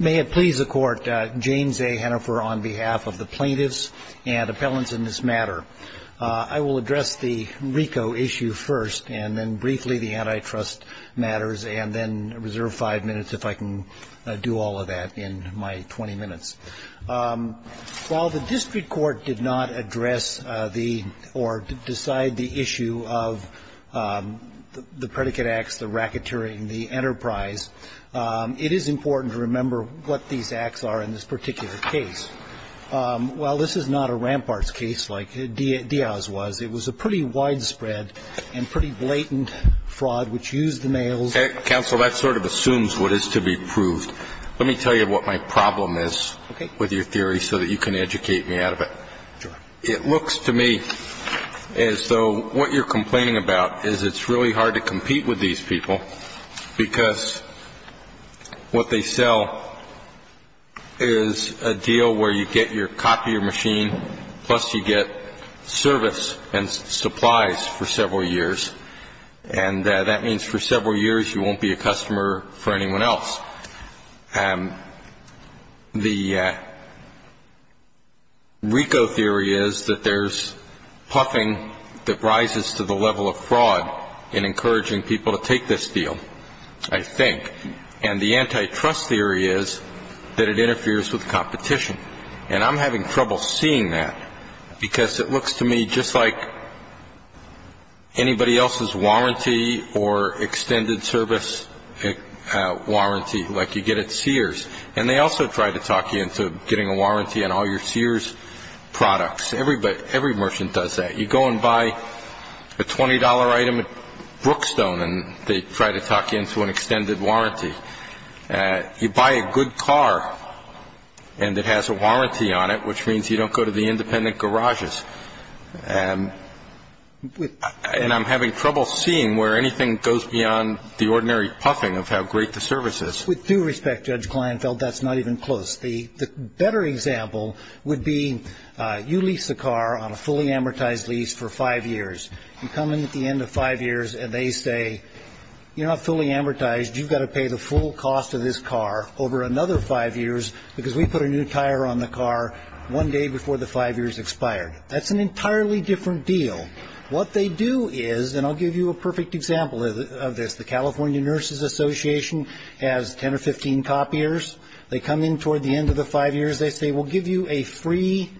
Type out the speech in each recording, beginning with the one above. May it please the court, James A. Hennifer on behalf of the plaintiffs and appellants in this matter. I will address the RICO issue first and then briefly the antitrust matters and then reserve five minutes if I can do all of that in my 20 minutes. While the district court did not address or decide the issue of the predicate acts, the racketeering, the enterprise, it is important to remember what these acts are in this particular case. While this is not a ramparts case like Diaz was, it was a pretty widespread and pretty blatant fraud which used the males. Counsel, that sort of assumes what is to be proved. Let me tell you what my problem is with your theory so that you can educate me out of it. It looks to me as though what you're complaining about is it's really hard to compete with these people because what they sell is a deal where you get your copy of your machine plus you get service and supplies for several years. And that means for several years you won't be a customer for anyone else. Well, the RICO theory is that there's puffing that rises to the level of fraud in encouraging people to take this deal, I think. And the antitrust theory is that it interferes with competition. And I'm having trouble seeing that because it looks to me just like anybody else's warranty or extended service warranty like you get at Sears. And they also try to talk you into getting a warranty on all your Sears products. Every merchant does that. You go and buy a $20 item at Brookstone and they try to talk you into an extended warranty. You buy a good car and it has a warranty on it, which means you don't go to the independent garages. And I'm having trouble seeing where anything goes beyond the ordinary puffing of how great the service is. With due respect, Judge Kleinfeld, that's not even close. The better example would be you lease a car on a fully amortized lease for five years. You come in at the end of five years and they say, you're not fully amortized. You've got to pay the full cost of this car over another five years because we put a new tire on the car one day before the five years expired. That's an entirely different deal. What they do is, and I'll give you a perfect example of this, the California Nurses Association has 10 or 15 copiers. They come in toward the end of the five years. They say, we'll give you a free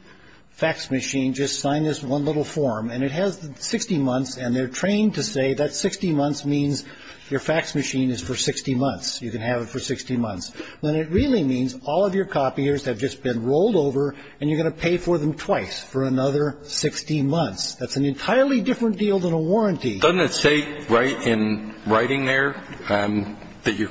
fax machine. Just sign this one little form. And it has 60 months and they're trained to say that 60 months means your fax machine is for 60 months. You can have it for 60 months. When it really means all of your copiers have just been rolled over and you're going to pay for them twice for another 60 months. That's an entirely different deal than a warranty. Doesn't it say right in writing there that your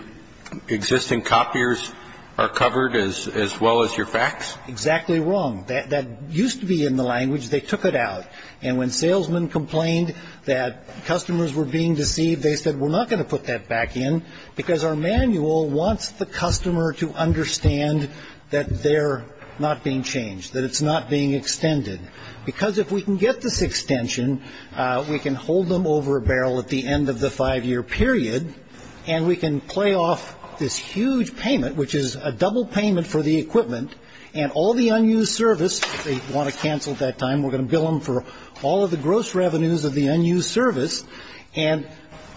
existing copiers are covered as well as your fax? Exactly wrong. That used to be in the language. They took it out. And when salesmen complained that customers were being deceived, they said, we're not going to put that back in because our manual wants the customer to understand that they're not being changed, that it's not being extended because if we can get this extension, we can hold them over a barrel at the end of the five-year period and we can play off this huge payment, which is a double payment for the equipment and all the unused service. They want to cancel at that time. We're going to bill them for all of the gross revenues of the unused service. And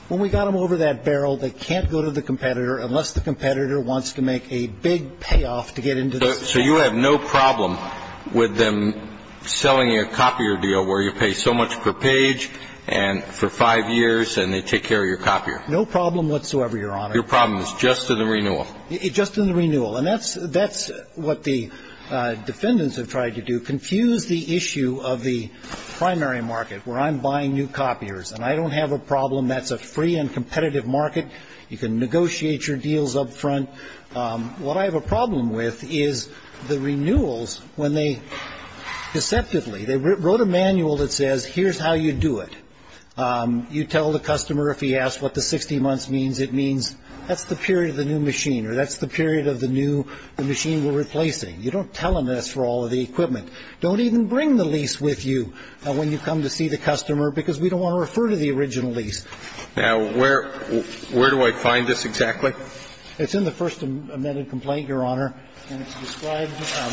when we got them over that barrel, they can't go to the competitor unless the competitor wants to make a big payoff to get into this. So you have no problem with them selling you a copier deal where you pay so much per page and for five years and they take care of your copier? No problem whatsoever, Your Honor. Your problem is just to the renewal. Just in the renewal. And that's what the defendants have tried to do, confuse the issue of the primary market where I'm buying new copiers and I don't have a problem. That's a free and competitive market. You can negotiate your deals up front. What I have a problem with is the renewals when they deceptively, they wrote a manual that says here's how you do it. You tell the customer if he asks what the 60 months means, it means that's the period of the new machine or that's the period of the new machine we're replacing. You don't tell them this for all of the equipment. Don't even bring the lease with you when you come to see the customer because we don't want to refer to the original lease. Now, where do I find this exactly? It's in the first amended complaint, Your Honor. And it's described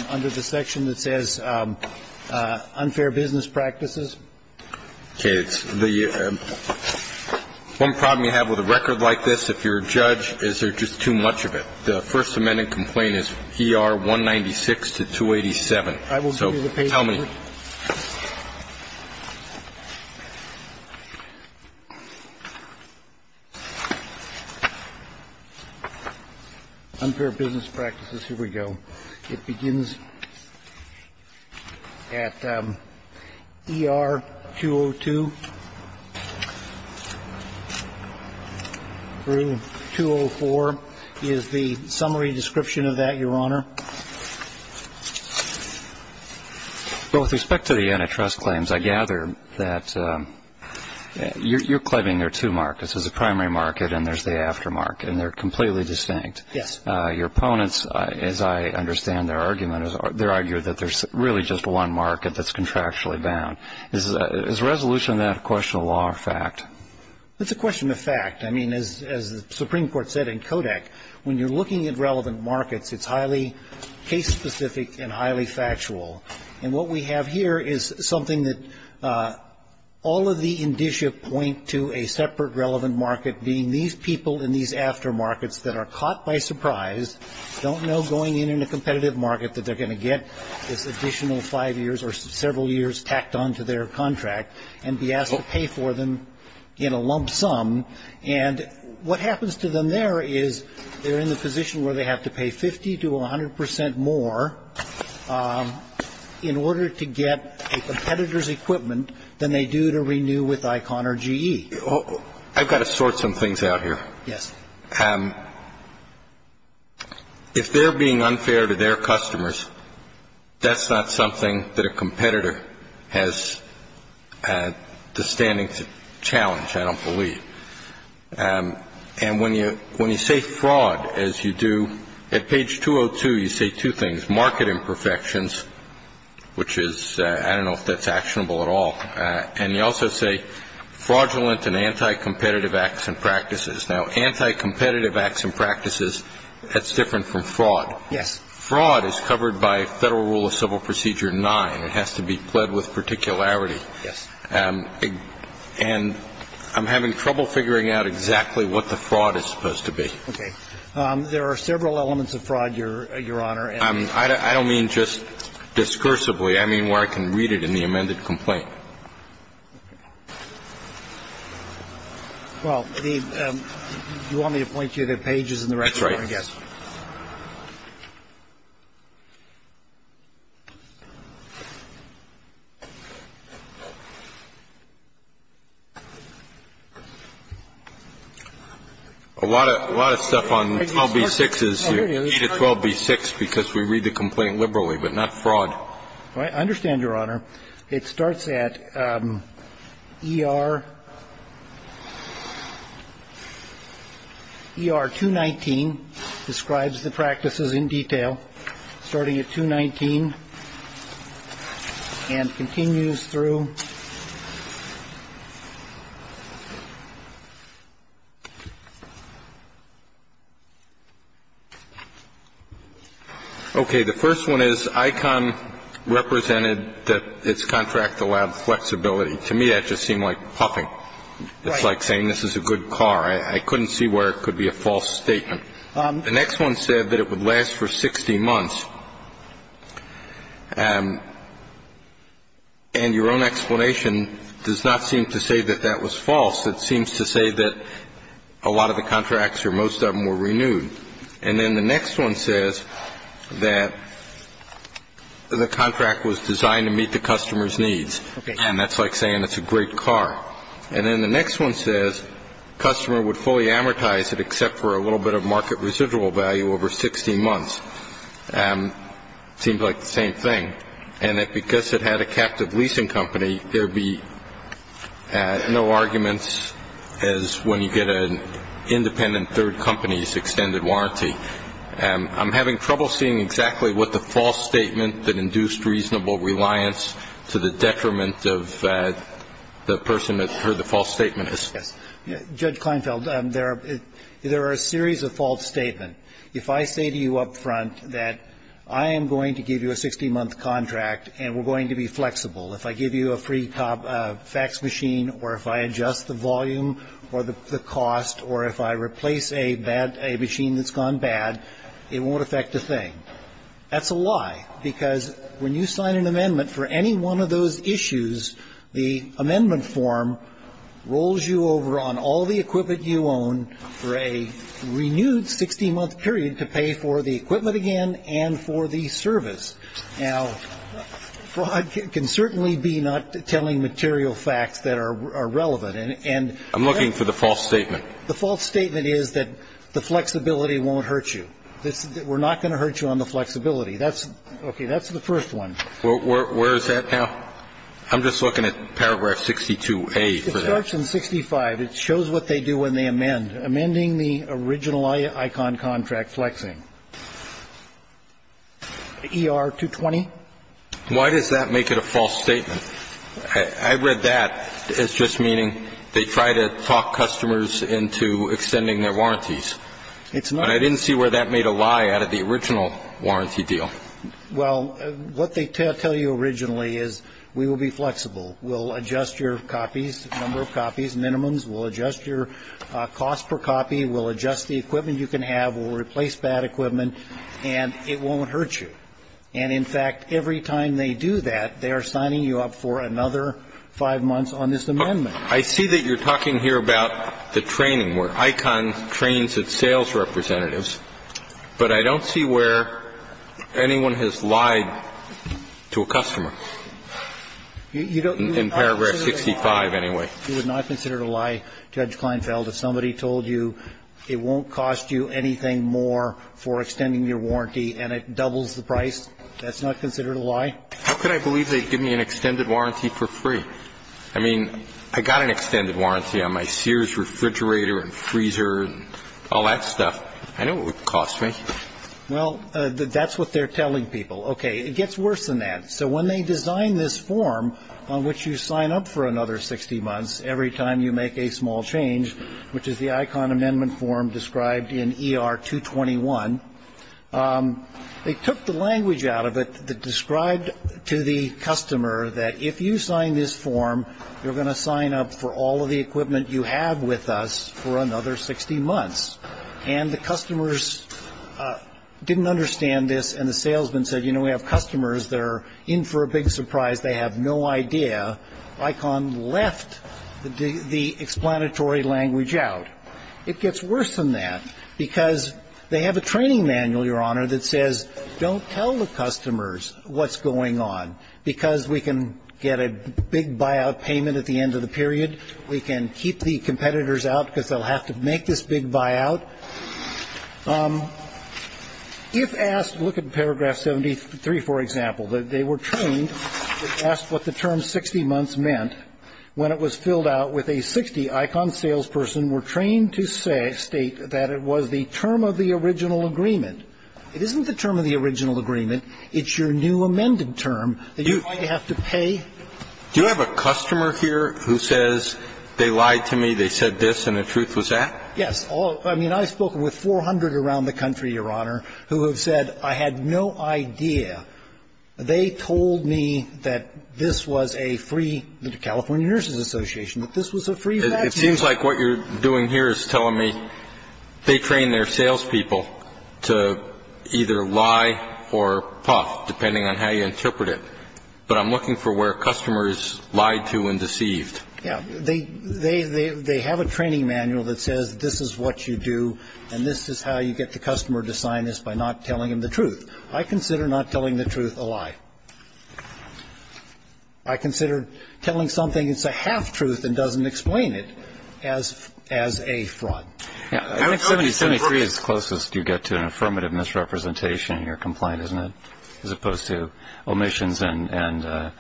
under the section that says unfair business practices. Okay. One problem you have with a record like this, if you're a judge, is there just too much of it. The first amended complaint is ER 196 to 287. I will give you the paper. So tell me. Unfair business practices. Here we go. It begins at ER 202 through 204 is the summary description of that, Your Honor. Well, with respect to the antitrust claims, I gather that you're claiming there are two markets. There's a primary market and there's the aftermarket. And they're completely distinct. Yes. Your opponents, as I understand their argument, they argue that there's really just one market that's contractually bound. Is resolution of that a question of law or fact? It's a question of fact. I mean, as the Supreme Court said in Kodak, when you're looking at relevant markets, it's highly case-specific and highly factual. And what we have here is something that all of the indicia point to a separate relevant market being these people in these aftermarkets that are caught by surprise, don't know going in in a competitive market that they're going to get this additional five years or several years tacked on to their contract and be asked to pay for them in a lump sum. And what happens to them there is they're in the position where they have to pay 50 to 100 percent more in order to get a competitor's equipment than they do to renew with ICON or GE. I've got to sort some things out here. Yes. If they're being unfair to their customers, that's not something that a competitor has the standing to challenge, I don't believe. And when you say fraud, as you do at page 202, you say two things, market imperfections, which is, I don't know if that's actionable at all. And you also say fraudulent and anti-competitive acts and practices. Now, anti-competitive acts and practices, that's different from fraud. Yes. Fraud is covered by Federal Rule of Civil Procedure 9. It has to be pled with particularity. Yes. And I'm having trouble figuring out exactly what the fraud is supposed to be. Okay. There are several elements of fraud, Your Honor. I don't mean just discursively. I mean where I can read it in the amended complaint. Well, you want me to point you to the pages in the record, I guess. That's right. A lot of stuff on 12b-6 is either 12b-6 because we read the complaint liberally, but not fraud. I understand, Your Honor. It starts at ER 219, describes the practices in detail, starting at 219, and continues through. Okay. The first one is ICON represented that it's contract allowed flexibility. To me, that just seemed like puffing. Right. It's like saying this is a good car. I couldn't see where it could be a false statement. The next one said that it would last for 60 months. And your own explanation does not seem to say that that was false. It seems to say that a lot of the contracts or most of them were renewed. And then the next one says that the contract was designed to meet the customer's needs. Okay. And that's like saying it's a great car. And then the next one says customer would fully amortize it except for a little bit of market residual value over 60 months. It seems like the same thing, and that because it had a captive leasing company, there would be no arguments as when you get an independent third company's extended warranty. I'm having trouble seeing exactly what the false statement that induced reasonable reliance to the detriment of the person that heard the false statement is. Yes. Judge Kleinfeld, there are a series of false statements. If I say to you up front that I am going to give you a 60-month contract and we're going to be flexible, if I give you a free fax machine or if I adjust the volume or the cost or if I replace a machine that's gone bad, it won't affect a thing. That's a lie, because when you sign an amendment for any one of those issues, the amendment form rolls you over on all the equipment you own for a renewed 60-month period to pay for the equipment again and for the service. Now, fraud can certainly be not telling material facts that are relevant. I'm looking for the false statement. The false statement is that the flexibility won't hurt you. We're not going to hurt you on the flexibility. Okay. That's the first one. Where is that now? I'm just looking at paragraph 62A for that. It starts in 65. It shows what they do when they amend. Amending the original icon contract flexing. ER-220? Why does that make it a false statement? I read that as just meaning they try to talk customers into extending their warranties. It's not. But I didn't see where that made a lie out of the original warranty deal. Well, what they tell you originally is we will be flexible. We'll adjust your copies, number of copies, minimums. We'll adjust your cost per copy. We'll adjust the equipment you can have. We'll replace bad equipment. And it won't hurt you. And, in fact, every time they do that, they are signing you up for another five months on this amendment. I see that you're talking here about the training where ICON trains its sales representatives. But I don't see where anyone has lied to a customer, in paragraph 65 anyway. You would not consider it a lie, Judge Kleinfeld, if somebody told you it won't cost you anything more for extending your warranty and it doubles the price? That's not considered a lie? How could I believe they'd give me an extended warranty for free? I mean, I got an extended warranty on my Sears refrigerator and freezer and all that stuff. I know what it would cost, right? Well, that's what they're telling people. Okay. It gets worse than that. So when they design this form on which you sign up for another 60 months every time you make a small change, which is the ICON amendment form described in ER-221, they took the language out of it that described to the customer that if you sign this form, you're going to sign up for all of the equipment you have with us for another 60 months. And the customers didn't understand this, and the salesman said, you know, we have customers that are in for a big surprise. They have no idea. ICON left the explanatory language out. It gets worse than that because they have a training manual, Your Honor, that says don't tell the customers what's going on because we can get a big buyout payment at the end of the period. We can keep the competitors out because they'll have to make this big buyout. If asked to look at paragraph 73, for example, they were trained to ask what the term 60 months meant when it was filled out with a 60. ICON salesperson were trained to state that it was the term of the original agreement. It isn't the term of the original agreement. It's your new amended term that you might have to pay. Do you have a customer here who says they lied to me, they said this, and the truth was that? Yes. I mean, I've spoken with 400 around the country, Your Honor, who have said I had no idea. They told me that this was a free, the California Nurses Association, that this was a free vaccine. It seems like what you're doing here is telling me they trained their salespeople to either lie or puff, depending on how you interpret it. But I'm looking for where customers lied to and deceived. Yeah. They have a training manual that says this is what you do and this is how you get the customer to sign this by not telling them the truth. I consider not telling the truth a lie. I consider telling something that's a half-truth and doesn't explain it as a fraud. I think 73 is closest you get to an affirmative misrepresentation in your complaint, isn't it, as opposed to omissions and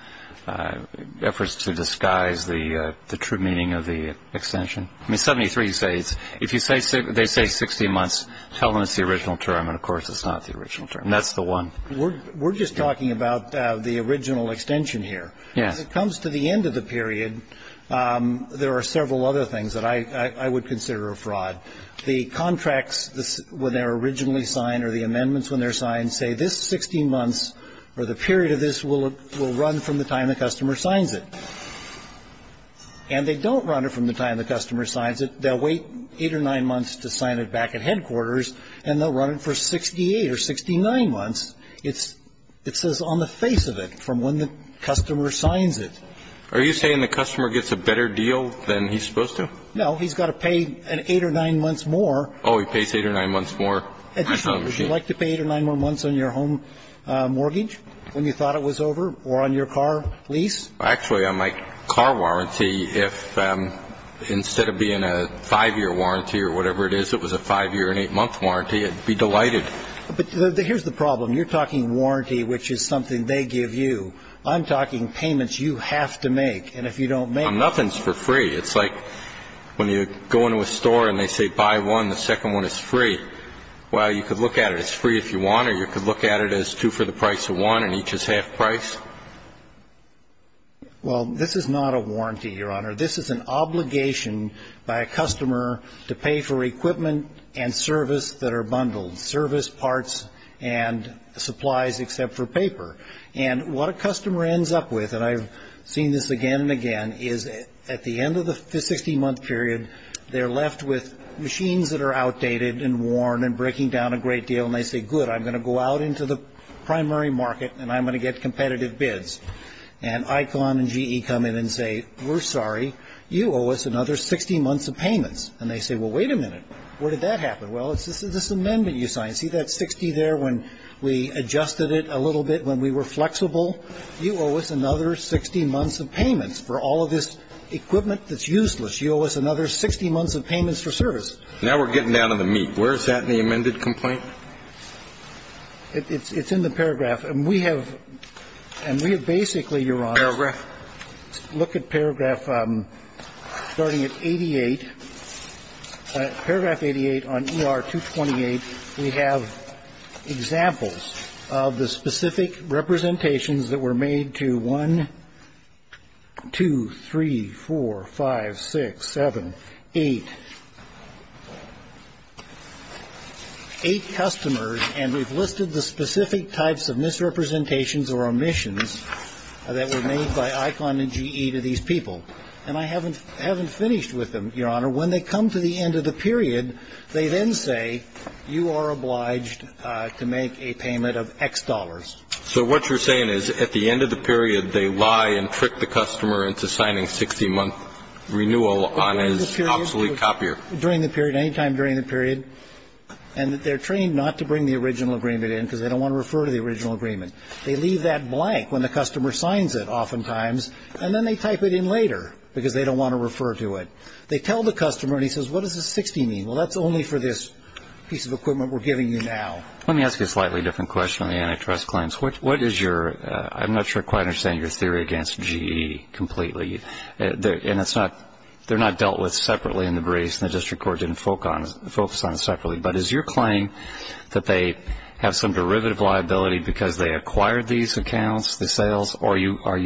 efforts to disguise the true meaning of the extension? I mean, 73, if they say 16 months, tell them it's the original term, and, of course, it's not the original term. That's the one. We're just talking about the original extension here. Yeah. As it comes to the end of the period, there are several other things that I would consider a fraud. The contracts when they're originally signed or the amendments when they're signed say this 16 months or the period of this will run from the time the customer signs it. And they don't run it from the time the customer signs it. They'll wait eight or nine months to sign it back at headquarters, and they'll run it for 68 or 69 months. It says on the face of it from when the customer signs it. Are you saying the customer gets a better deal than he's supposed to? No, he's got to pay eight or nine months more. Oh, he pays eight or nine months more? Would you like to pay eight or nine more months on your home mortgage when you thought it was over or on your car lease? Actually, on my car warranty, if instead of being a five-year warranty or whatever it is, if it was a five-year and eight-month warranty, I'd be delighted. But here's the problem. You're talking warranty, which is something they give you. I'm talking payments you have to make. And if you don't make them. Well, nothing's for free. It's like when you go into a store and they say buy one, the second one is free. Well, you could look at it as free if you want, or you could look at it as two for the price of one and each is half price. Well, this is not a warranty, Your Honor. This is an obligation by a customer to pay for equipment and service that are bundled, service parts and supplies except for paper. And what a customer ends up with, and I've seen this again and again, is at the end of the 60-month period, they're left with machines that are outdated and worn and breaking down a great deal. And they say, good, I'm going to go out into the primary market and I'm going to get competitive bids. And ICON and GE come in and say, we're sorry. You owe us another 60 months of payments. And they say, well, wait a minute. Where did that happen? Well, it's this amendment you signed. You see that 60 there when we adjusted it a little bit when we were flexible? You owe us another 60 months of payments. For all of this equipment that's useless, you owe us another 60 months of payments for service. Now we're getting down to the meat. Where is that in the amended complaint? It's in the paragraph. And we have basically, Your Honor, look at paragraph starting at 88. Paragraph 88 on ER-228, we have examples of the specific representations that were made to 1, 2, 3, 4, 5, 6, 7, 8. Eight customers, and we've listed the specific types of misrepresentations or omissions that were made by ICON and GE to these people. And I haven't finished with them, Your Honor. When they come to the end of the period, they then say you are obliged to make a payment of X dollars. So what you're saying is at the end of the period, they lie and trick the customer into signing 60-month renewal on his obsolete copier? During the period, any time during the period. And they're trained not to bring the original agreement in because they don't want to refer to the original agreement. They leave that blank when the customer signs it oftentimes, and then they type it in later because they don't want to refer to it. They tell the customer, and he says, what does the 60 mean? Well, that's only for this piece of equipment we're giving you now. Let me ask you a slightly different question on the antitrust claims. What is your – I'm not sure I quite understand your theory against GE completely. And it's not – they're not dealt with separately in the briefs, and the district court didn't focus on it separately. But is your claim that they have some derivative liability because they acquired these accounts, the sales, or are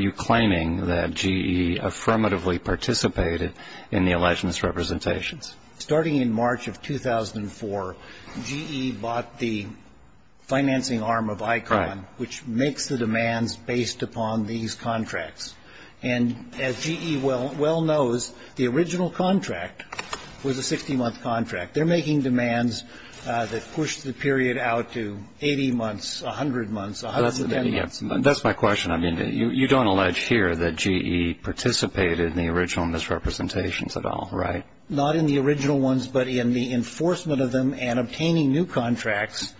you claiming that GE affirmatively participated in the alleged misrepresentations? Starting in March of 2004, GE bought the financing arm of ICON, which makes the demands based upon these contracts. And as GE well knows, the original contract was a 60-month contract. They're making demands that push the period out to 80 months, 100 months, or 100 to 10 months. That's my question. I mean, you don't allege here that GE participated in the original misrepresentations at all, right? Not in the original ones, but in the enforcement of them and obtaining new contracts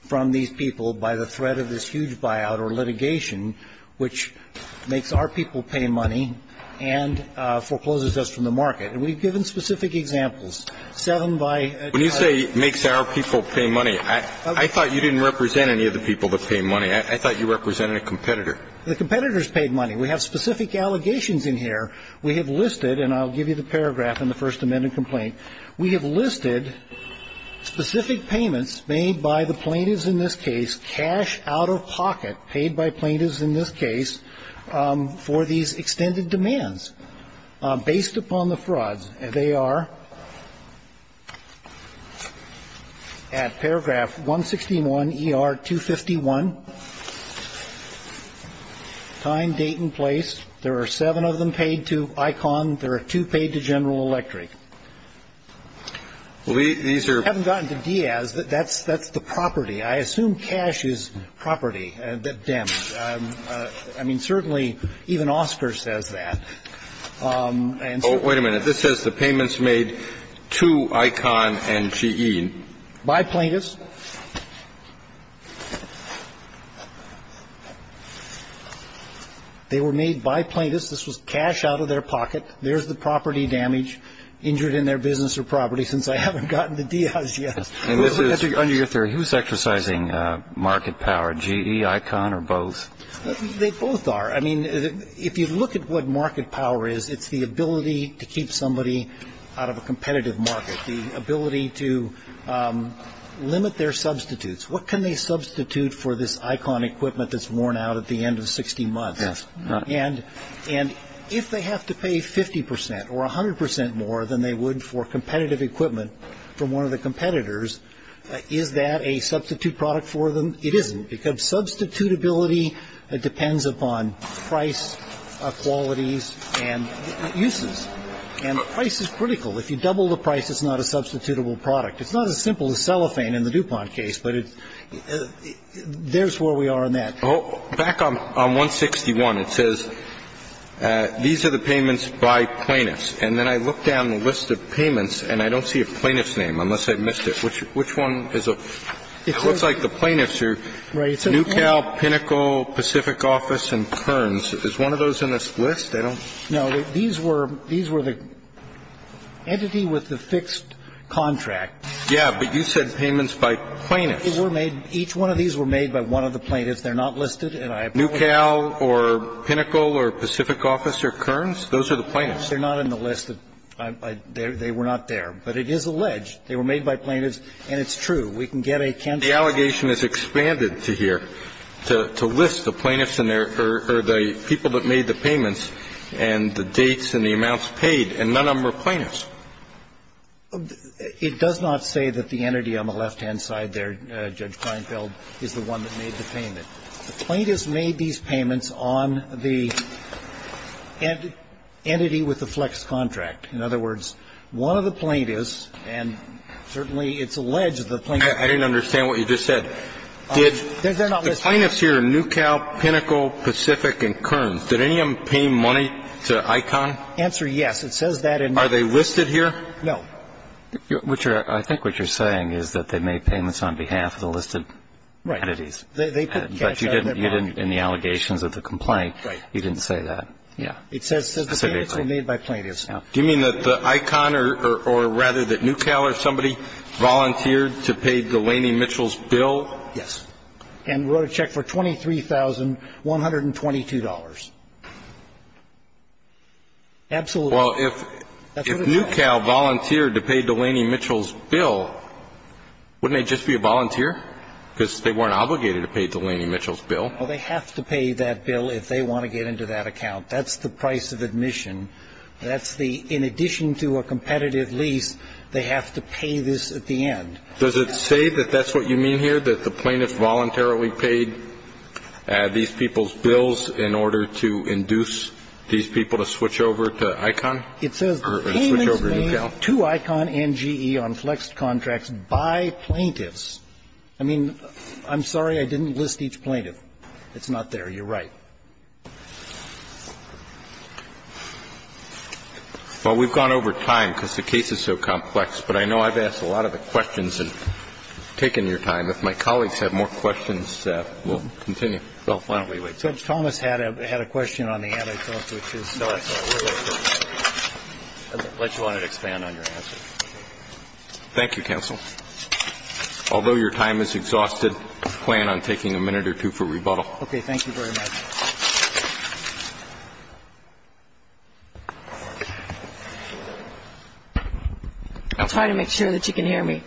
from these people by the threat of this huge buyout or litigation, which makes our people pay money and forecloses us from the market. And we've given specific examples. When you say makes our people pay money, I thought you didn't represent any of the people that pay money. I thought you represented a competitor. The competitors paid money. We have specific allegations in here. We have listed, and I'll give you the paragraph in the First Amendment complaint, we have listed specific payments made by the plaintiffs in this case, cash out-of-pocket paid by plaintiffs in this case for these extended demands based upon the frauds. They are at paragraph 161ER251, time, date, and place. There are seven of them paid to ICON. There are two paid to General Electric. We haven't gotten to Diaz. That's the property. I assume cash is property, the damage. I mean, certainly even Oscar says that. Wait a minute. This says the payments made to ICON and GE. By plaintiffs. They were made by plaintiffs. This was cash out-of-their-pocket. There's the property damage, injured in their business or property, since I haven't gotten to Diaz yet. Under your theory, who's exercising market power, GE, ICON, or both? They both are. I mean, if you look at what market power is, it's the ability to keep somebody out of a competitive market, the ability to limit their substitutes. What can they substitute for this ICON equipment that's worn out at the end of 60 months? And if they have to pay 50% or 100% more than they would for competitive equipment from one of the competitors, is that a substitute product for them? It isn't. Because substitutability depends upon price, qualities, and uses. And price is critical. If you double the price, it's not a substitutable product. It's not as simple as cellophane in the DuPont case, but there's where we are on that. Back on 161, it says these are the payments by plaintiffs. And then I look down the list of payments, and I don't see a plaintiff's name, unless I missed it. Which one is it? It looks like the plaintiffs are Newcal, Pinnacle, Pacific Office, and Kearns. Is one of those in this list? I don't see it. No. These were the entity with the fixed contract. Yeah, but you said payments by plaintiffs. They were made. Each one of these were made by one of the plaintiffs. They're not listed. Newcal or Pinnacle or Pacific Office or Kearns? Those are the plaintiffs. They're not in the list. They were not there. But it is alleged they were made by plaintiffs. And it's true. We can get a cancel. The allegation is expanded to here, to list the plaintiffs or the people that made the payments and the dates and the amounts paid, and none of them were plaintiffs. It does not say that the entity on the left-hand side there, Judge Kleinfeld, is the one that made the payment. The plaintiffs made these payments on the entity with the flex contract. In other words, one of the plaintiffs, and certainly it's alleged the plaintiffs are not listed. I didn't understand what you just said. Did the plaintiffs here, Newcal, Pinnacle, Pacific and Kearns, did any of them pay money to ICON? Answer, yes. It says that in there. Are they listed here? No. I think what you're saying is that they made payments on behalf of the listed entities. Right. But you didn't in the allegations of the complaint. Right. You didn't say that. It says the payments were made by plaintiffs. Do you mean that ICON or rather that Newcal or somebody volunteered to pay Delaney-Mitchell's bill? Yes. And wrote a check for $23,122. Absolutely. Well, if Newcal volunteered to pay Delaney-Mitchell's bill, wouldn't they just be a volunteer because they weren't obligated to pay Delaney-Mitchell's bill? Well, they have to pay that bill if they want to get into that account. That's the price of admission. That's the, in addition to a competitive lease, they have to pay this at the end. Does it say that that's what you mean here, that the plaintiffs voluntarily paid these people's bills in order to induce these people to switch over to ICON? It says the payments were made to ICON and GE on flexed contracts by plaintiffs. I mean, I'm sorry I didn't list each plaintiff. It's not there. You're right. Well, we've gone over time because the case is so complex, but I know I've asked a lot of the questions and taken your time. If my colleagues have more questions, we'll continue. Well, why don't we wait? Judge Thomas had a question on the antitrust, which is not related. I just wanted to expand on your answer. Thank you, counsel. Although your time is exhausted, I plan on taking a minute or two for rebuttal. Okay. Thank you very much. I'll try to make sure that you can hear me.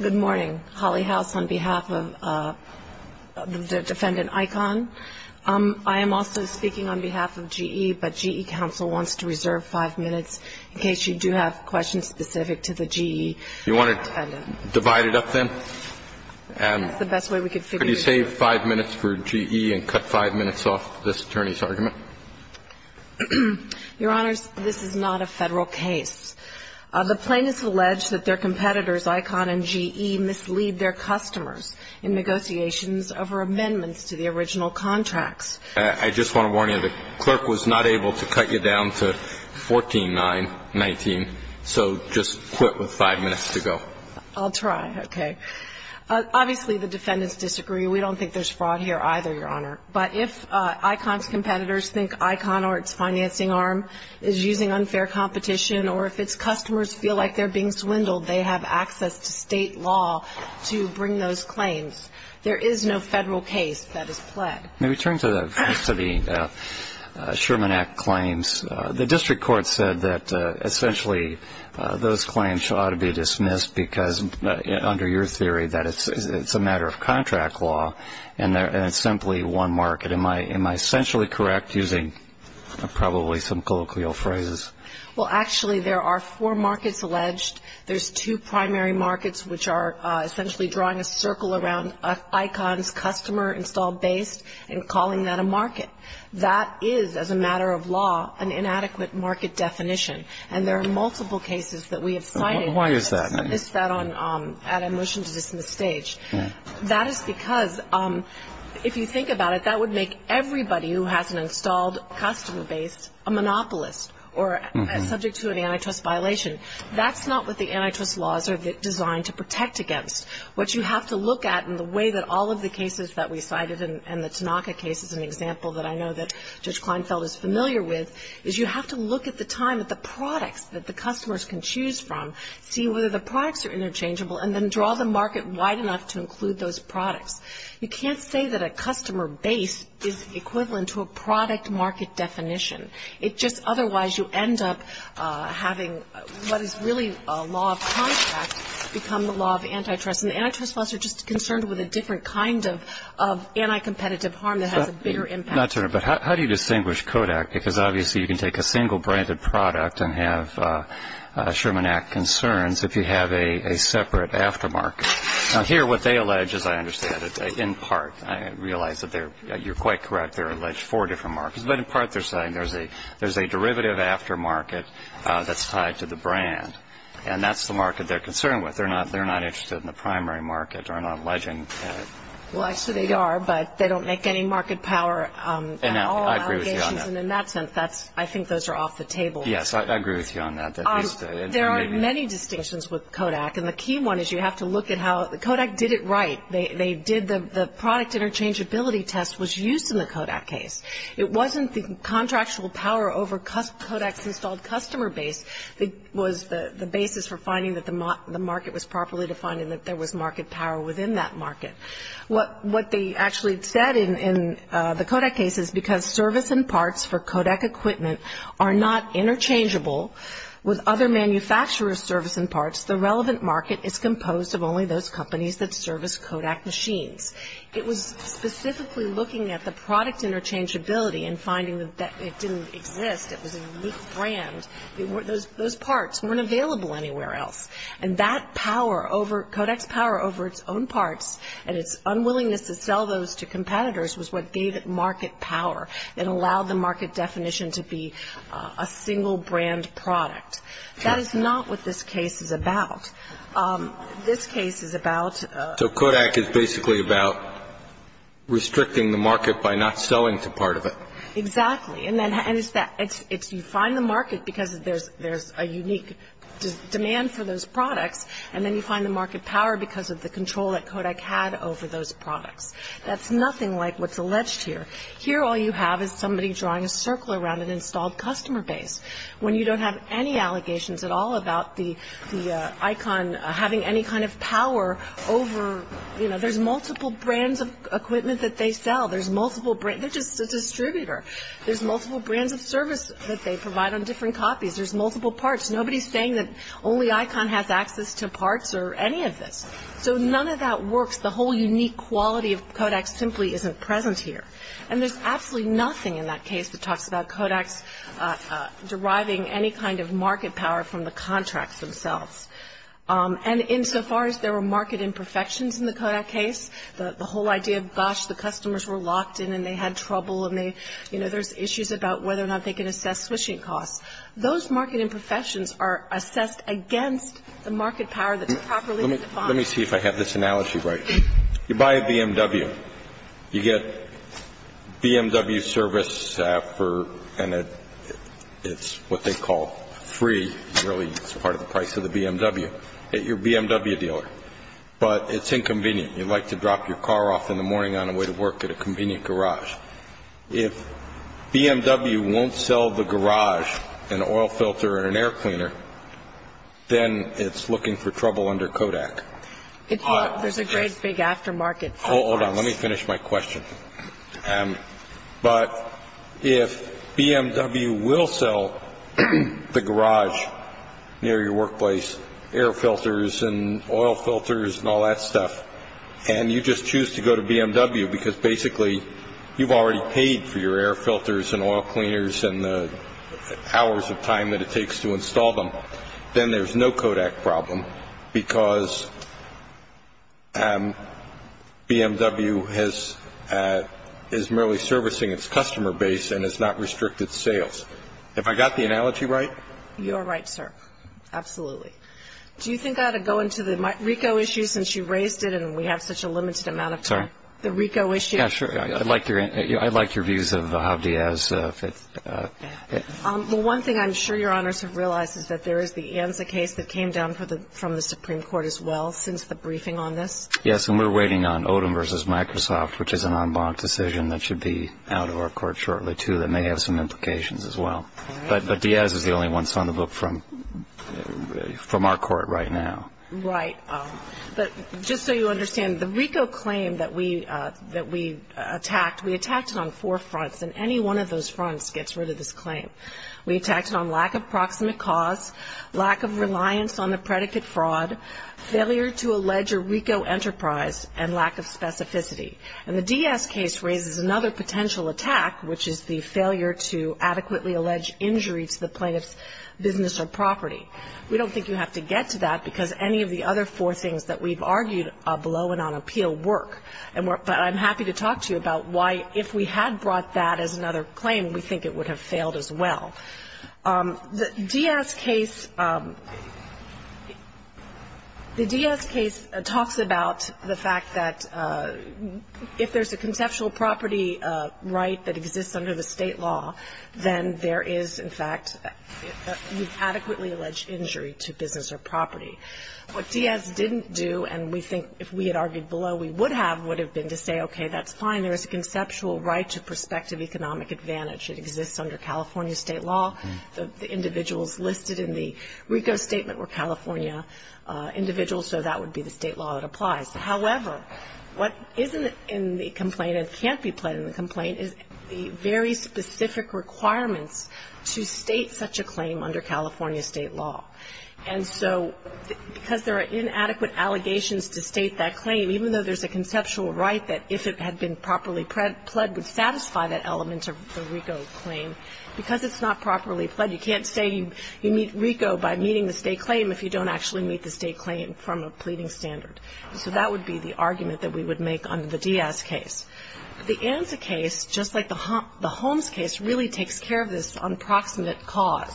Good morning. Holly House on behalf of the defendant ICON. I am also speaking on behalf of GE, but GE counsel wants to reserve five minutes in case you do have questions specific to the GE defendant. Do you want to divide it up, then? That's the best way we could figure it out. Could you save five minutes for GE and cut five minutes off this attorney's argument? Your Honors, this is not a Federal case. The plaintiff alleged that their competitors, ICON and GE, mislead their customers in negotiations over amendments to the original contracts. I just want to warn you, the clerk was not able to cut you down to 14-9-19, so just quit with five minutes to go. I'll try. Okay. Obviously, the defendants disagree. We don't think there's fraud here either, Your Honor. But if ICON's competitors think ICON or its financing arm is using unfair competition or if its customers feel like they're being swindled, they have access to State law to bring those claims. There is no Federal case that is pled. Let me turn to the Sherman Act claims. The district court said that essentially those claims ought to be dismissed because under your theory that it's a matter of contract law and it's simply one market. Am I essentially correct using probably some colloquial phrases? Well, actually, there are four markets alleged. There's two primary markets which are essentially drawing a circle around ICON's customer install base and calling that a market. That is, as a matter of law, an inadequate market definition, and there are multiple cases that we have cited. Why is that? I missed that at a motion to dismiss stage. That is because if you think about it, that would make everybody who has an installed customer base a monopolist or subject to an antitrust violation. That's not what the antitrust laws are designed to protect against. What you have to look at in the way that all of the cases that we cited and the Tanaka case is an example that I know that Judge Kleinfeld is familiar with is you have to look at the time that the products that the customers can choose from, see whether the products are interchangeable, and then draw the market wide enough to include those products. You can't say that a customer base is equivalent to a product market definition. It just otherwise you end up having what is really a law of contract become the law of antitrust. And the antitrust laws are just concerned with a different kind of anticompetitive harm that has a bigger impact. Not to interrupt, but how do you distinguish Kodak? Because obviously you can take a single branded product and have a Sherman Act concerns if you have a separate aftermarket. Now here what they allege, as I understand it, in part, I realize that you're quite correct, they're alleged four different markets. But in part they're saying there's a derivative aftermarket that's tied to the brand, and that's the market they're concerned with. They're not interested in the primary market. They're not alleging that. Well, actually they are, but they don't make any market power at all allegations. And in that sense, I think those are off the table. Yes, I agree with you on that. There are many distinctions with Kodak. And the key one is you have to look at how Kodak did it right. The product interchangeability test was used in the Kodak case. It wasn't the contractual power over Kodak's installed customer base that was the basis for finding that the market was properly defined and that there was market power within that market. What they actually said in the Kodak case is because service and parts for Kodak equipment are not interchangeable with other manufacturers' service and parts, the relevant market is composed of only those companies that service Kodak machines. It was specifically looking at the product interchangeability and finding that it didn't exist, it was a unique brand. Those parts weren't available anywhere else. And that power over – Kodak's power over its own parts and its unwillingness to sell those to competitors was what gave it market power and allowed the market definition to be a single brand product. That is not what this case is about. This case is about – So Kodak is basically about restricting the market by not selling to part of it. Exactly. And it's you find the market because there's a unique demand for those products, and then you find the market power because of the control that Kodak had over those products. That's nothing like what's alleged here. Here all you have is somebody drawing a circle around an installed customer base when you don't have any allegations at all about the icon having any kind of power over – you know, there's multiple brands of equipment that they sell. There's multiple – they're just a distributor. There's multiple brands of service that they provide on different copies. There's multiple parts. Nobody's saying that only icon has access to parts or any of this. So none of that works. The whole unique quality of Kodak simply isn't present here. And there's absolutely nothing in that case that talks about Kodak's deriving any kind of market power from the contracts themselves. And insofar as there were market imperfections in the Kodak case, the whole idea of, gosh, the customers were locked in and they had trouble and they – you know, there's issues about whether or not they can assess switching costs. Those market imperfections are assessed against the market power that's properly defined. Let me see if I have this analogy right. You buy a BMW. You get BMW service for – and it's what they call free. Really, it's part of the price of the BMW at your BMW dealer. But it's inconvenient. You'd like to drop your car off in the morning on the way to work at a convenient garage. If BMW won't sell the garage, an oil filter, or an air cleaner, then it's looking for trouble under Kodak. There's a great big aftermarket. Hold on. Let me finish my question. But if BMW will sell the garage near your workplace, air filters and oil filters and all that stuff, and you just choose to go to BMW because basically you've already paid for your air filters and oil cleaners and the hours of time that it takes to install them, then there's no Kodak problem because BMW is merely servicing its customer base and has not restricted sales. Have I got the analogy right? You are right, sir. Absolutely. Do you think I ought to go into the RICO issue since you raised it and we have such a limited amount of time? Sorry? The RICO issue. Yeah, sure. I like your views of how Diaz fits. Well, one thing I'm sure Your Honors have realized is that there is the ANSA case that came down from the Supreme Court as well since the briefing on this. Yes, and we're waiting on Odom v. Microsoft, which is an en banc decision that should be out of our court shortly, too, that may have some implications as well. But Diaz is the only one that's on the book from our court right now. Right. But just so you understand, the RICO claim that we attacked, we attacked it on four fronts, and any one of those fronts gets rid of this claim. We attacked it on lack of proximate cause, lack of reliance on the predicate fraud, failure to allege a RICO enterprise, and lack of specificity. And the Diaz case raises another potential attack, which is the failure to adequately allege injury to the plaintiff's business or property. We don't think you have to get to that because any of the other four things that we've argued below and on appeal work. But I'm happy to talk to you about why, if we had brought that as another claim, we think it would have failed as well. The Diaz case, the Diaz case talks about the fact that if there's a conceptual property right that exists under the State law, then there is, in fact, an adequately alleged injury to business or property. What Diaz didn't do, and we think if we had argued below, we would have, would have been to say, okay, that's fine. There is a conceptual right to prospective economic advantage. It exists under California State law. The individuals listed in the RICO statement were California individuals, so that would be the State law that applies. However, what isn't in the complaint and can't be played in the complaint is the very specific requirements to state such a claim under California State law. And so because there are inadequate allegations to state that claim, even though there's a conceptual right that if it had been properly pled, would satisfy that element of the RICO claim, because it's not properly pled, you can't say you meet RICO by meeting the State claim if you don't actually meet the State claim from a pleading standard. So that would be the argument that we would make under the Diaz case. The ANSA case, just like the Holmes case, really takes care of this unproximate cause.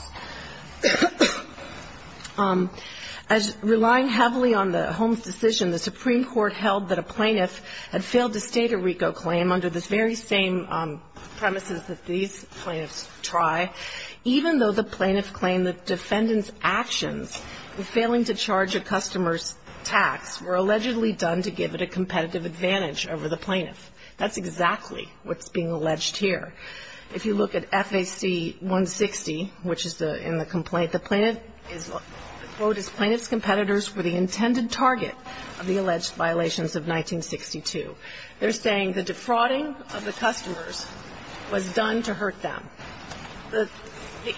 As relying heavily on the Holmes decision, the Supreme Court held that a plaintiff had failed to state a RICO claim under the very same premises that these plaintiffs try, even though the plaintiff claimed the defendant's actions of failing to charge a customer's tax were allegedly done to give it a competitive advantage over the plaintiff. That's exactly what's being alleged here. If you look at FAC 160, which is in the complaint, the plaintiff is, quote, the plaintiff's competitors were the intended target of the alleged violations of 1962. They're saying the defrauding of the customers was done to hurt them. The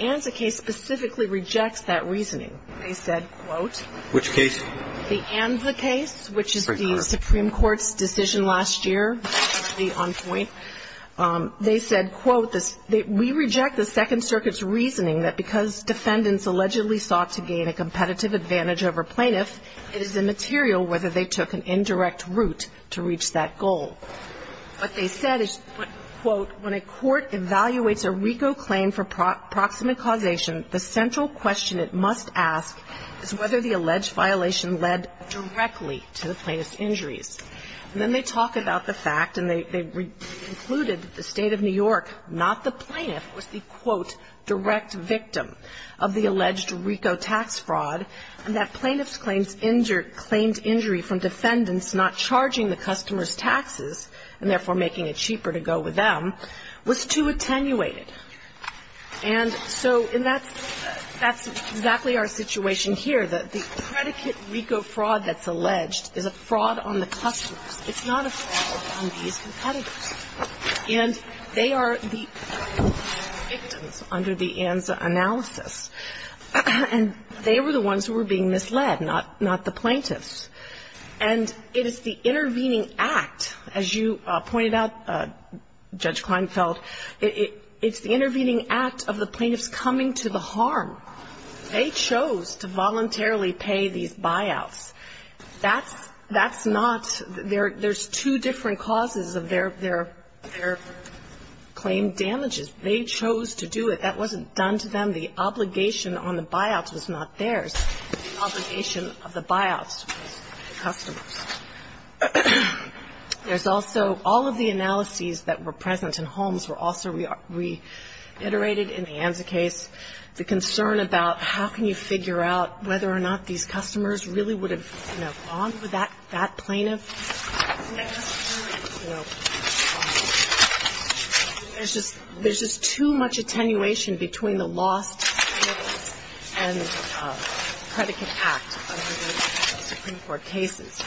ANSA case specifically rejects that reasoning. They said, quote, Which case? The ANSA case, which is the Supreme Court's decision last year, currently on point. They said, quote, We reject the Second Circuit's reasoning that because defendants allegedly sought to gain a competitive advantage over plaintiffs, it is immaterial whether they took an indirect route to reach that goal. What they said is, quote, When a court evaluates a RICO claim for proximate causation, the central question it must ask is whether the alleged violation led directly to the plaintiff's injuries. And then they talk about the fact, and they concluded that the State of New York, not the plaintiff, was the, quote, direct victim of the alleged RICO tax fraud, and that plaintiff's claims injured claimed injury from defendants not charging the customers' taxes, and therefore making it cheaper to go with them, was too attenuated. And so that's exactly our situation here, that the predicate RICO fraud that's It's not a fraud on these competitors. And they are the victims under the ANSA analysis. And they were the ones who were being misled, not the plaintiffs. And it is the intervening act, as you pointed out, Judge Kleinfeld, it's the intervening act of the plaintiffs coming to the harm. They chose to voluntarily pay these buyouts. That's not, there's two different causes of their claimed damages. They chose to do it. That wasn't done to them. The obligation on the buyouts was not theirs. The obligation of the buyouts was the customers'. There's also all of the analyses that were present in Holmes were also reiterated in the ANSA case. The concern about how can you figure out whether or not these customers really would have, you know, gone with that plaintiff, you know. There's just too much attenuation between the lost plaintiffs and the predicate act under the Supreme Court cases.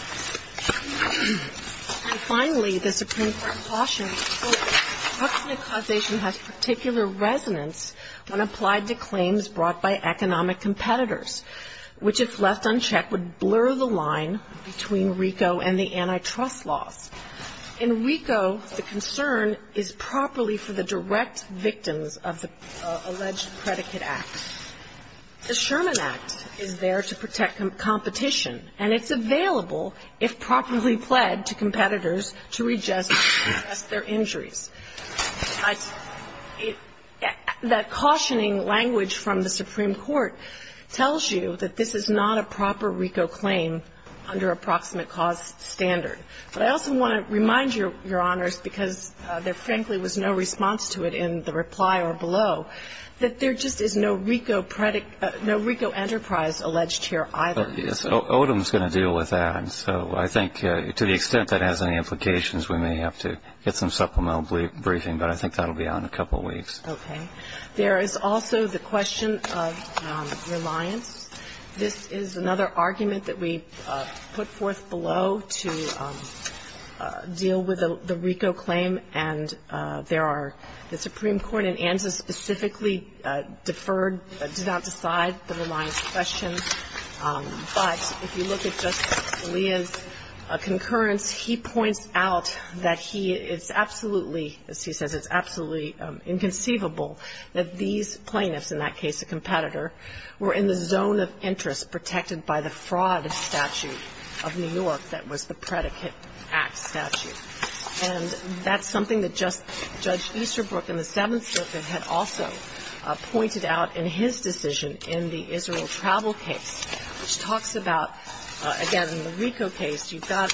And finally, the Supreme Court cautioned, well, the proximate causation has particular resonance when applied to claims brought by economic competitors, which, if left unchecked, would blur the line between RICO and the antitrust laws. In RICO, the concern is properly for the direct victims of the alleged predicate act. The Sherman Act is there to protect competition, and it's available, if properly pled, to competitors to readjust their injuries. That cautioning language from the Supreme Court tells you that this is not a proper RICO claim under a proximate cause standard. But I also want to remind Your Honors, because there, frankly, was no response to it in the reply or below, that there just is no RICO enterprise alleged here either. So Odom's going to deal with that. So I think to the extent that it has any implications, we may have to get some supplemental briefing. But I think that will be out in a couple of weeks. Okay. There is also the question of reliance. This is another argument that we put forth below to deal with the RICO claim, and there are the Supreme Court in ANSA specifically deferred, did not decide the reliance question. But if you look at Justice Scalia's concurrence, he points out that he — it's absolutely, as he says, it's absolutely inconceivable that these plaintiffs, in that case a competitor, were in the zone of interest protected by the fraud statute of New York that was the predicate act statute. And that's something that Judge Easterbrook in the Seventh Circuit had also pointed out in his decision in the Israel travel case, which talks about, again, in the RICO case, you can't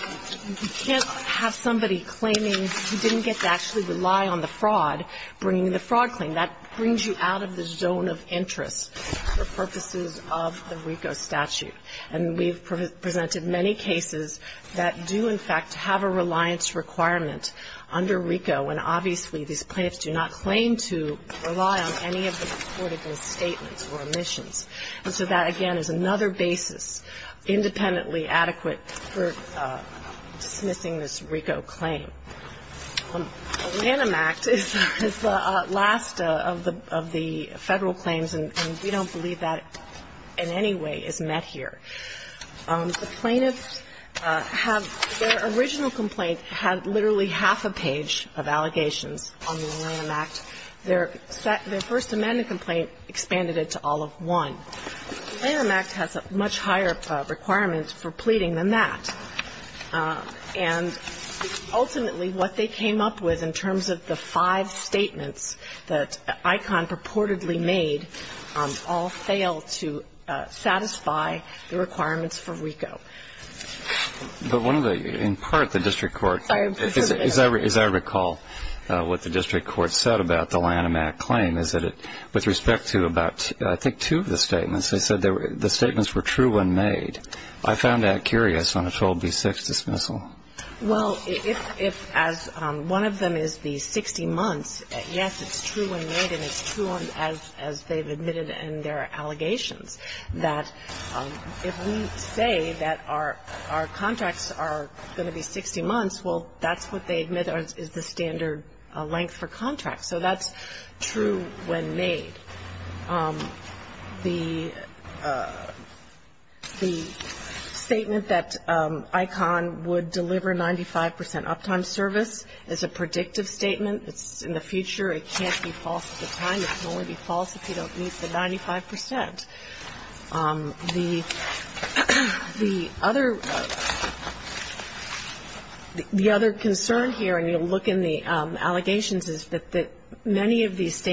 have somebody claiming he didn't get to actually rely on the fraud, bringing the fraud claim. That brings you out of the zone of interest for purposes of the RICO statute. And we've presented many cases that do, in fact, have a reliance requirement under RICO when obviously these plaintiffs do not claim to rely on any of the reported statements or omissions. And so that, again, is another basis, independently adequate for dismissing this RICO claim. The Lanham Act is the last of the Federal claims, and we don't believe that in any way is met here. The plaintiffs have their original complaint had literally half a page of allegations on the Lanham Act. Their first amendment complaint expanded it to all of one. The Lanham Act has much higher requirements for pleading than that. And ultimately, what they came up with in terms of the five statements that ICON purportedly made all fail to satisfy the requirements for RICO. But one of the ñ in part, the district court ñ as I recall what the district court said about the Lanham Act claim is that it ñ with respect to about, I think, two of the statements, they said the statements were true when made. I found that curious on a 12b6 dismissal. Well, if, as one of them is the 60 months, yes, it's true when made, and it's true as they've admitted in their allegations, that if we say that our contracts are going to be 60 months, well, that's what they admit is the standard length for contracts. So that's true when made. The statement that ICON would deliver 95 percent uptime service is a predictive statement. It's in the future. It can't be false at the time. It can only be false if you don't meet the 95 percent. The other concern here, and you'll look in the allegations, is that many of these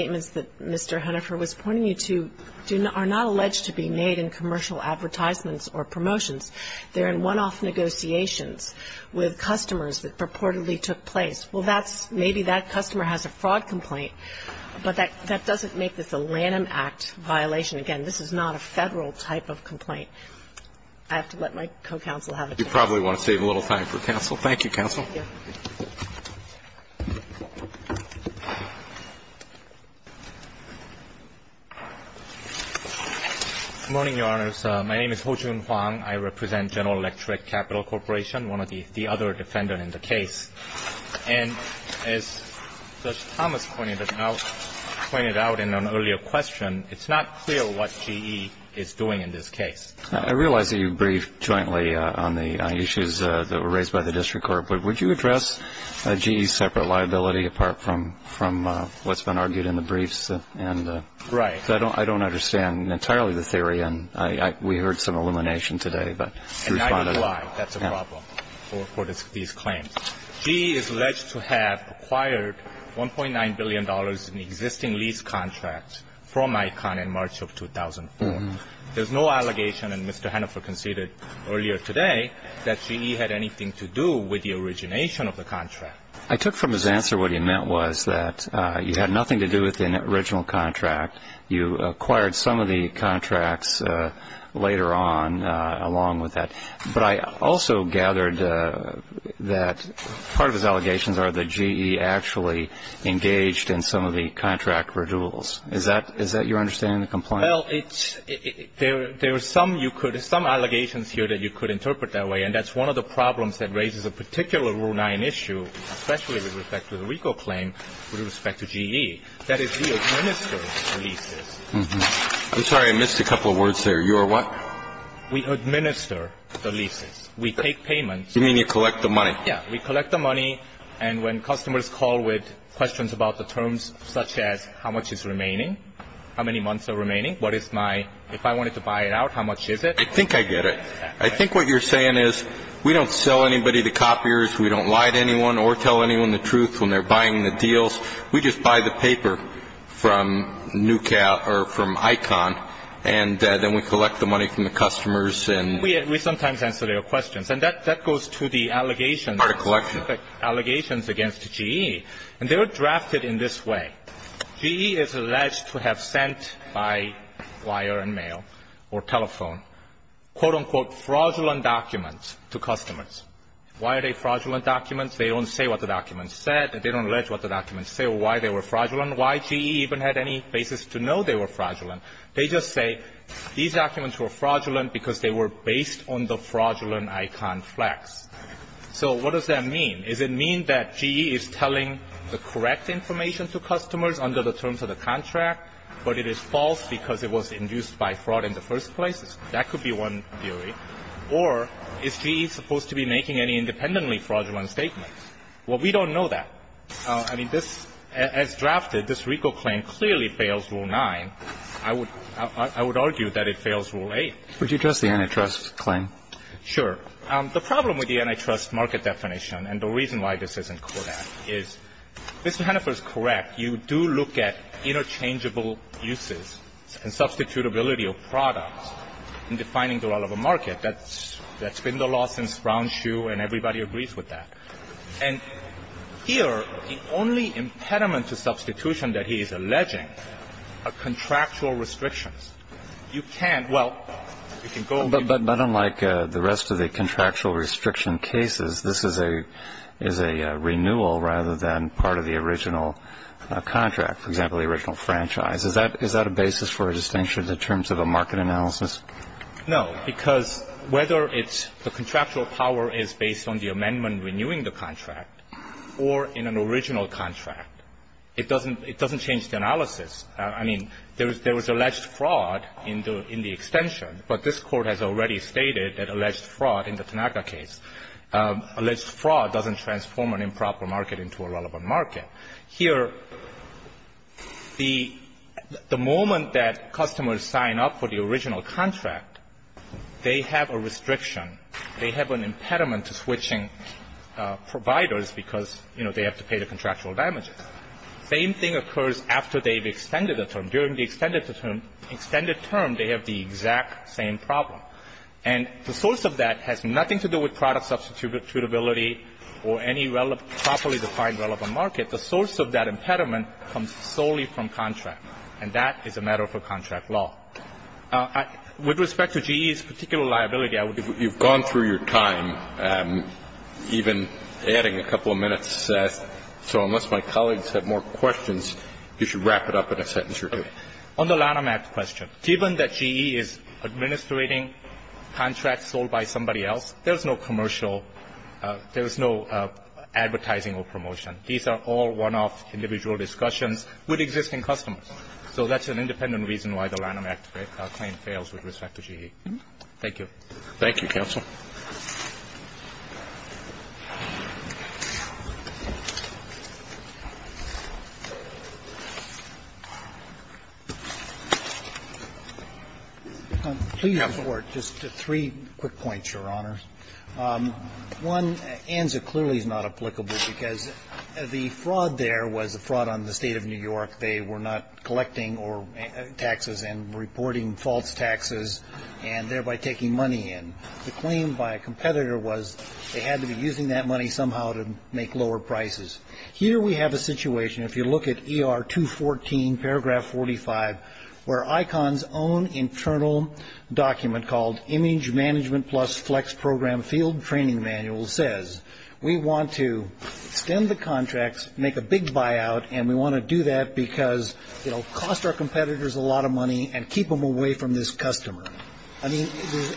are not alleged to be made in commercial advertisements or promotions. They're in one-off negotiations with customers that purportedly took place. Well, that's ñ maybe that customer has a fraud complaint, but that doesn't make this a Lanham Act violation. Again, this is not a Federal type of complaint. I have to let my co-counsel have it. You probably want to save a little time for counsel. Thank you, counsel. Good morning, Your Honors. My name is Hojun Huang. I represent General Electric Capital Corporation, one of the other defendants in the case. And as Judge Thomas pointed out in an earlier question, it's not clear what GE is doing in this case. I realize that you briefed jointly on the issues that were raised by the district court, but would you address GE's separate liability apart from what's been argued in the briefs? Right. Because I don't understand entirely the theory, and we heard some illumination today. And I can lie. That's a problem for these claims. GE is alleged to have acquired $1.9 billion in existing lease contracts from ICON in March of 2004. There's no allegation, and Mr. Hannaford conceded earlier today, that GE had anything to do with the origination of the contract. I took from his answer what he meant was that you had nothing to do with the original contract. You acquired some of the contracts later on along with that. But I also gathered that part of his allegations are that GE actually engaged in some of the contract redoubles. Is that your understanding of the complaint? Well, there are some allegations here that you could interpret that way, and that's one of the problems that raises a particular Rule 9 issue, especially with respect to the RICO claim, with respect to GE. That is, we administer the leases. I'm sorry. I missed a couple of words there. You are what? We administer the leases. We take payments. You mean you collect the money. Yes. We collect the money, and when customers call with questions about the terms such as how much is remaining, how many months are remaining, what is my – if I wanted to buy it out, how much is it? I think I get it. I think what you're saying is we don't sell anybody the copiers. We don't lie to anyone or tell anyone the truth when they're buying the deals. We just buy the paper from ICON, and then we collect the money from the customers and – We sometimes answer their questions. And that goes to the allegations – Part of collection. Allegations against GE. And they're drafted in this way. GE is alleged to have sent by wire and mail or telephone, quote, unquote, fraudulent documents to customers. Why are they fraudulent documents? They don't say what the documents said. They don't allege what the documents say or why they were fraudulent, why GE even had any basis to know they were fraudulent. They just say these documents were fraudulent because they were based on the fraudulent ICON flex. So what does that mean? Does it mean that GE is telling the correct information to customers under the terms of the contract, but it is false because it was induced by fraud in the first place? That could be one theory. Or is GE supposed to be making any independently fraudulent statements? Well, we don't know that. I mean, this – as drafted, this RICO claim clearly fails Rule 9. I would argue that it fails Rule 8. Would you address the antitrust claim? Sure. The problem with the antitrust market definition, and the reason why this isn't correct, is Mr. Hennifer is correct. You do look at interchangeable uses and substitutability of products in defining the relevant market. That's been the law since Brownshoe, and everybody agrees with that. And here, the only impediment to substitution that he is alleging are contractual restrictions. You can't – well, you can go on. But unlike the rest of the contractual restriction cases, this is a renewal rather than part of the original contract, for example, the original franchise. Is that a basis for a distinction in terms of a market analysis? No, because whether it's the contractual power is based on the amendment renewing the contract or in an original contract, it doesn't change the analysis. I mean, there was alleged fraud in the extension. But this Court has already stated that alleged fraud in the Tanaka case, alleged fraud doesn't transform an improper market into a relevant market. Here, the moment that customers sign up for the original contract, they have a restriction. They have an impediment to switching providers because, you know, they have to pay the contractual damages. Same thing occurs after they've extended the term. During the extended term, they have the exact same problem. And the source of that has nothing to do with product substitutability or any properly defined relevant market. The source of that impediment comes solely from contract. And that is a matter for contract law. With respect to GE's particular liability, I would say it's not. You've gone through your time, even adding a couple of minutes. So unless my colleagues have more questions, you should wrap it up in a sentence or two. On the Lanham Act question, given that GE is administrating contracts sold by somebody else, there's no commercial, there's no advertising or promotion. These are all one-off individual discussions with existing customers. So that's an independent reason why the Lanham Act claim fails with respect to GE. Thank you. Thank you, counsel. Please, Your Honor. Just three quick points, Your Honor. One, ANSA clearly is not applicable because the fraud there was a fraud on the State of New York. They were not collecting taxes and reporting false taxes and thereby taking money away. The claim by a competitor was they had to be using that money somehow to make lower prices. Here we have a situation, if you look at ER 214, paragraph 45, where ICON's own internal document called Image Management Plus Flex Program Field Training Manual says we want to stem the contracts, make a big buyout, and we want to do that because it will cost our competitors a lot of money and keep them away from this customer. I mean, there's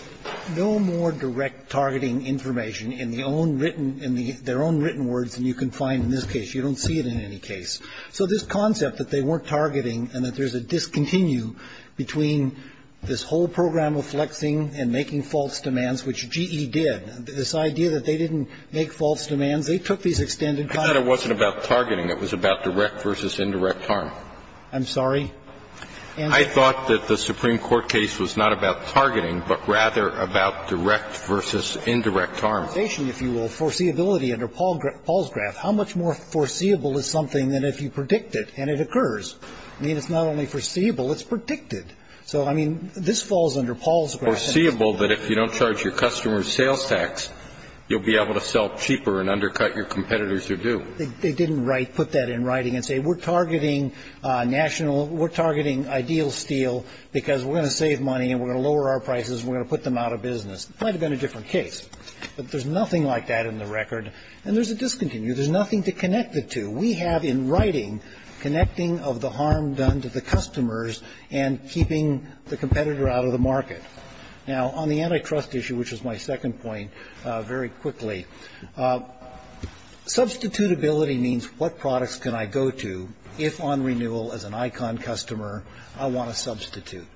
no more direct targeting information in their own written words than you can find in this case. You don't see it in any case. So this concept that they weren't targeting and that there's a discontinue between this whole program of flexing and making false demands, which GE did, this idea that they didn't make false demands, they took these extended contracts. I thought it wasn't about targeting. It was about direct versus indirect harm. I'm sorry? I thought that the Supreme Court case was not about targeting, but rather about direct versus indirect harm. If you will, foreseeability under Paul's graph, how much more foreseeable is something than if you predict it and it occurs? I mean, it's not only foreseeable, it's predicted. So, I mean, this falls under Paul's graph. Foreseeable that if you don't charge your customers sales tax, you'll be able to sell cheaper and undercut your competitors who do. They didn't put that in writing and say we're targeting national, we're targeting ideal steel because we're going to save money and we're going to lower our prices and we're going to put them out of business. It might have been a different case. But there's nothing like that in the record. And there's a discontinue. There's nothing to connect the two. We have in writing connecting of the harm done to the customers and keeping the competitor out of the market. Now, on the antitrust issue, which is my second point, very quickly, substitutability means what products can I go to if on renewal as an ICON customer I want to substitute.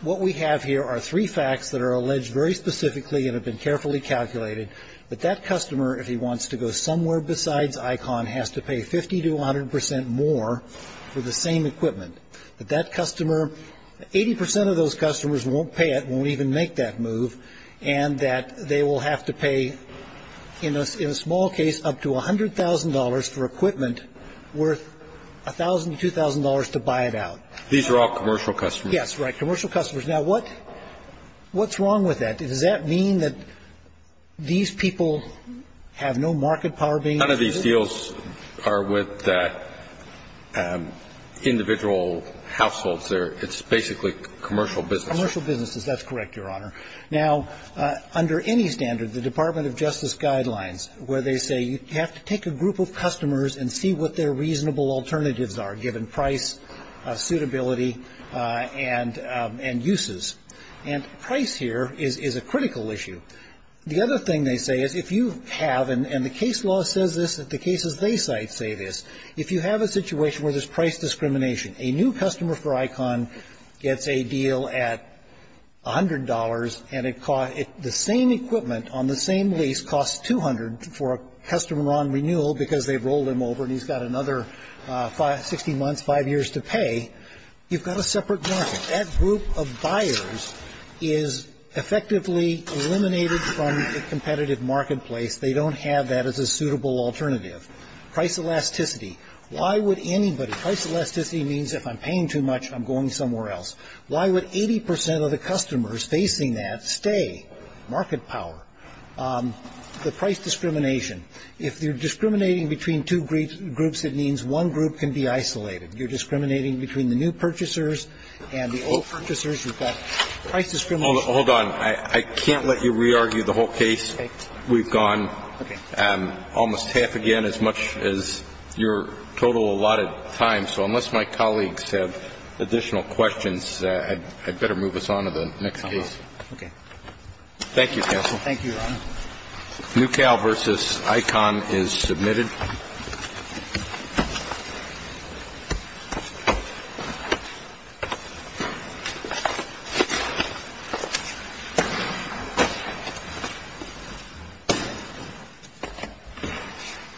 What we have here are three facts that are alleged very specifically and have been carefully calculated that that customer, if he wants to go somewhere besides ICON, has to pay 50 to 100 percent more for the same equipment. That that customer, 80 percent of those customers won't pay it, won't even make that move, and that they will have to pay, in a small case, up to $100,000 for equipment worth $1,000 to $2,000 to buy it out. These are all commercial customers. Yes, right, commercial customers. Now, what's wrong with that? Does that mean that these people have no market power being used? None of these deals are with individual households. It's basically commercial businesses. Commercial businesses, that's correct, Your Honor. Now, under any standard, the Department of Justice guidelines, where they say you have to take a group of customers and see what their reasonable alternatives are, given price, suitability, and uses. And price here is a critical issue. The other thing they say is if you have, and the case law says this, the cases they cite say this, if you have a situation where there's price discrimination, a new customer for ICON gets a deal at $100, and the same equipment on the same lease costs $200 for a customer on renewal because they've rolled him over and he's got another 60 months, five years to pay, you've got a separate market. That group of buyers is effectively eliminated from the competitive marketplace. They don't have that as a suitable alternative. Price elasticity. Why would anybody, price elasticity means if I'm paying too much, I'm going somewhere else. Why would 80% of the customers facing that stay? Market power. The price discrimination. If you're discriminating between two groups, it means one group can be isolated. You're discriminating between the new purchasers and the old purchasers. You've got price discrimination. Hold on. I can't let you re-argue the whole case. Okay. We've gone almost half again, as much as your total allotted time. So unless my colleagues have additional questions, I'd better move us on to the next case. Okay. Thank you, counsel. Thank you, Your Honor. New Cal v. ICON is submitted. Thank you.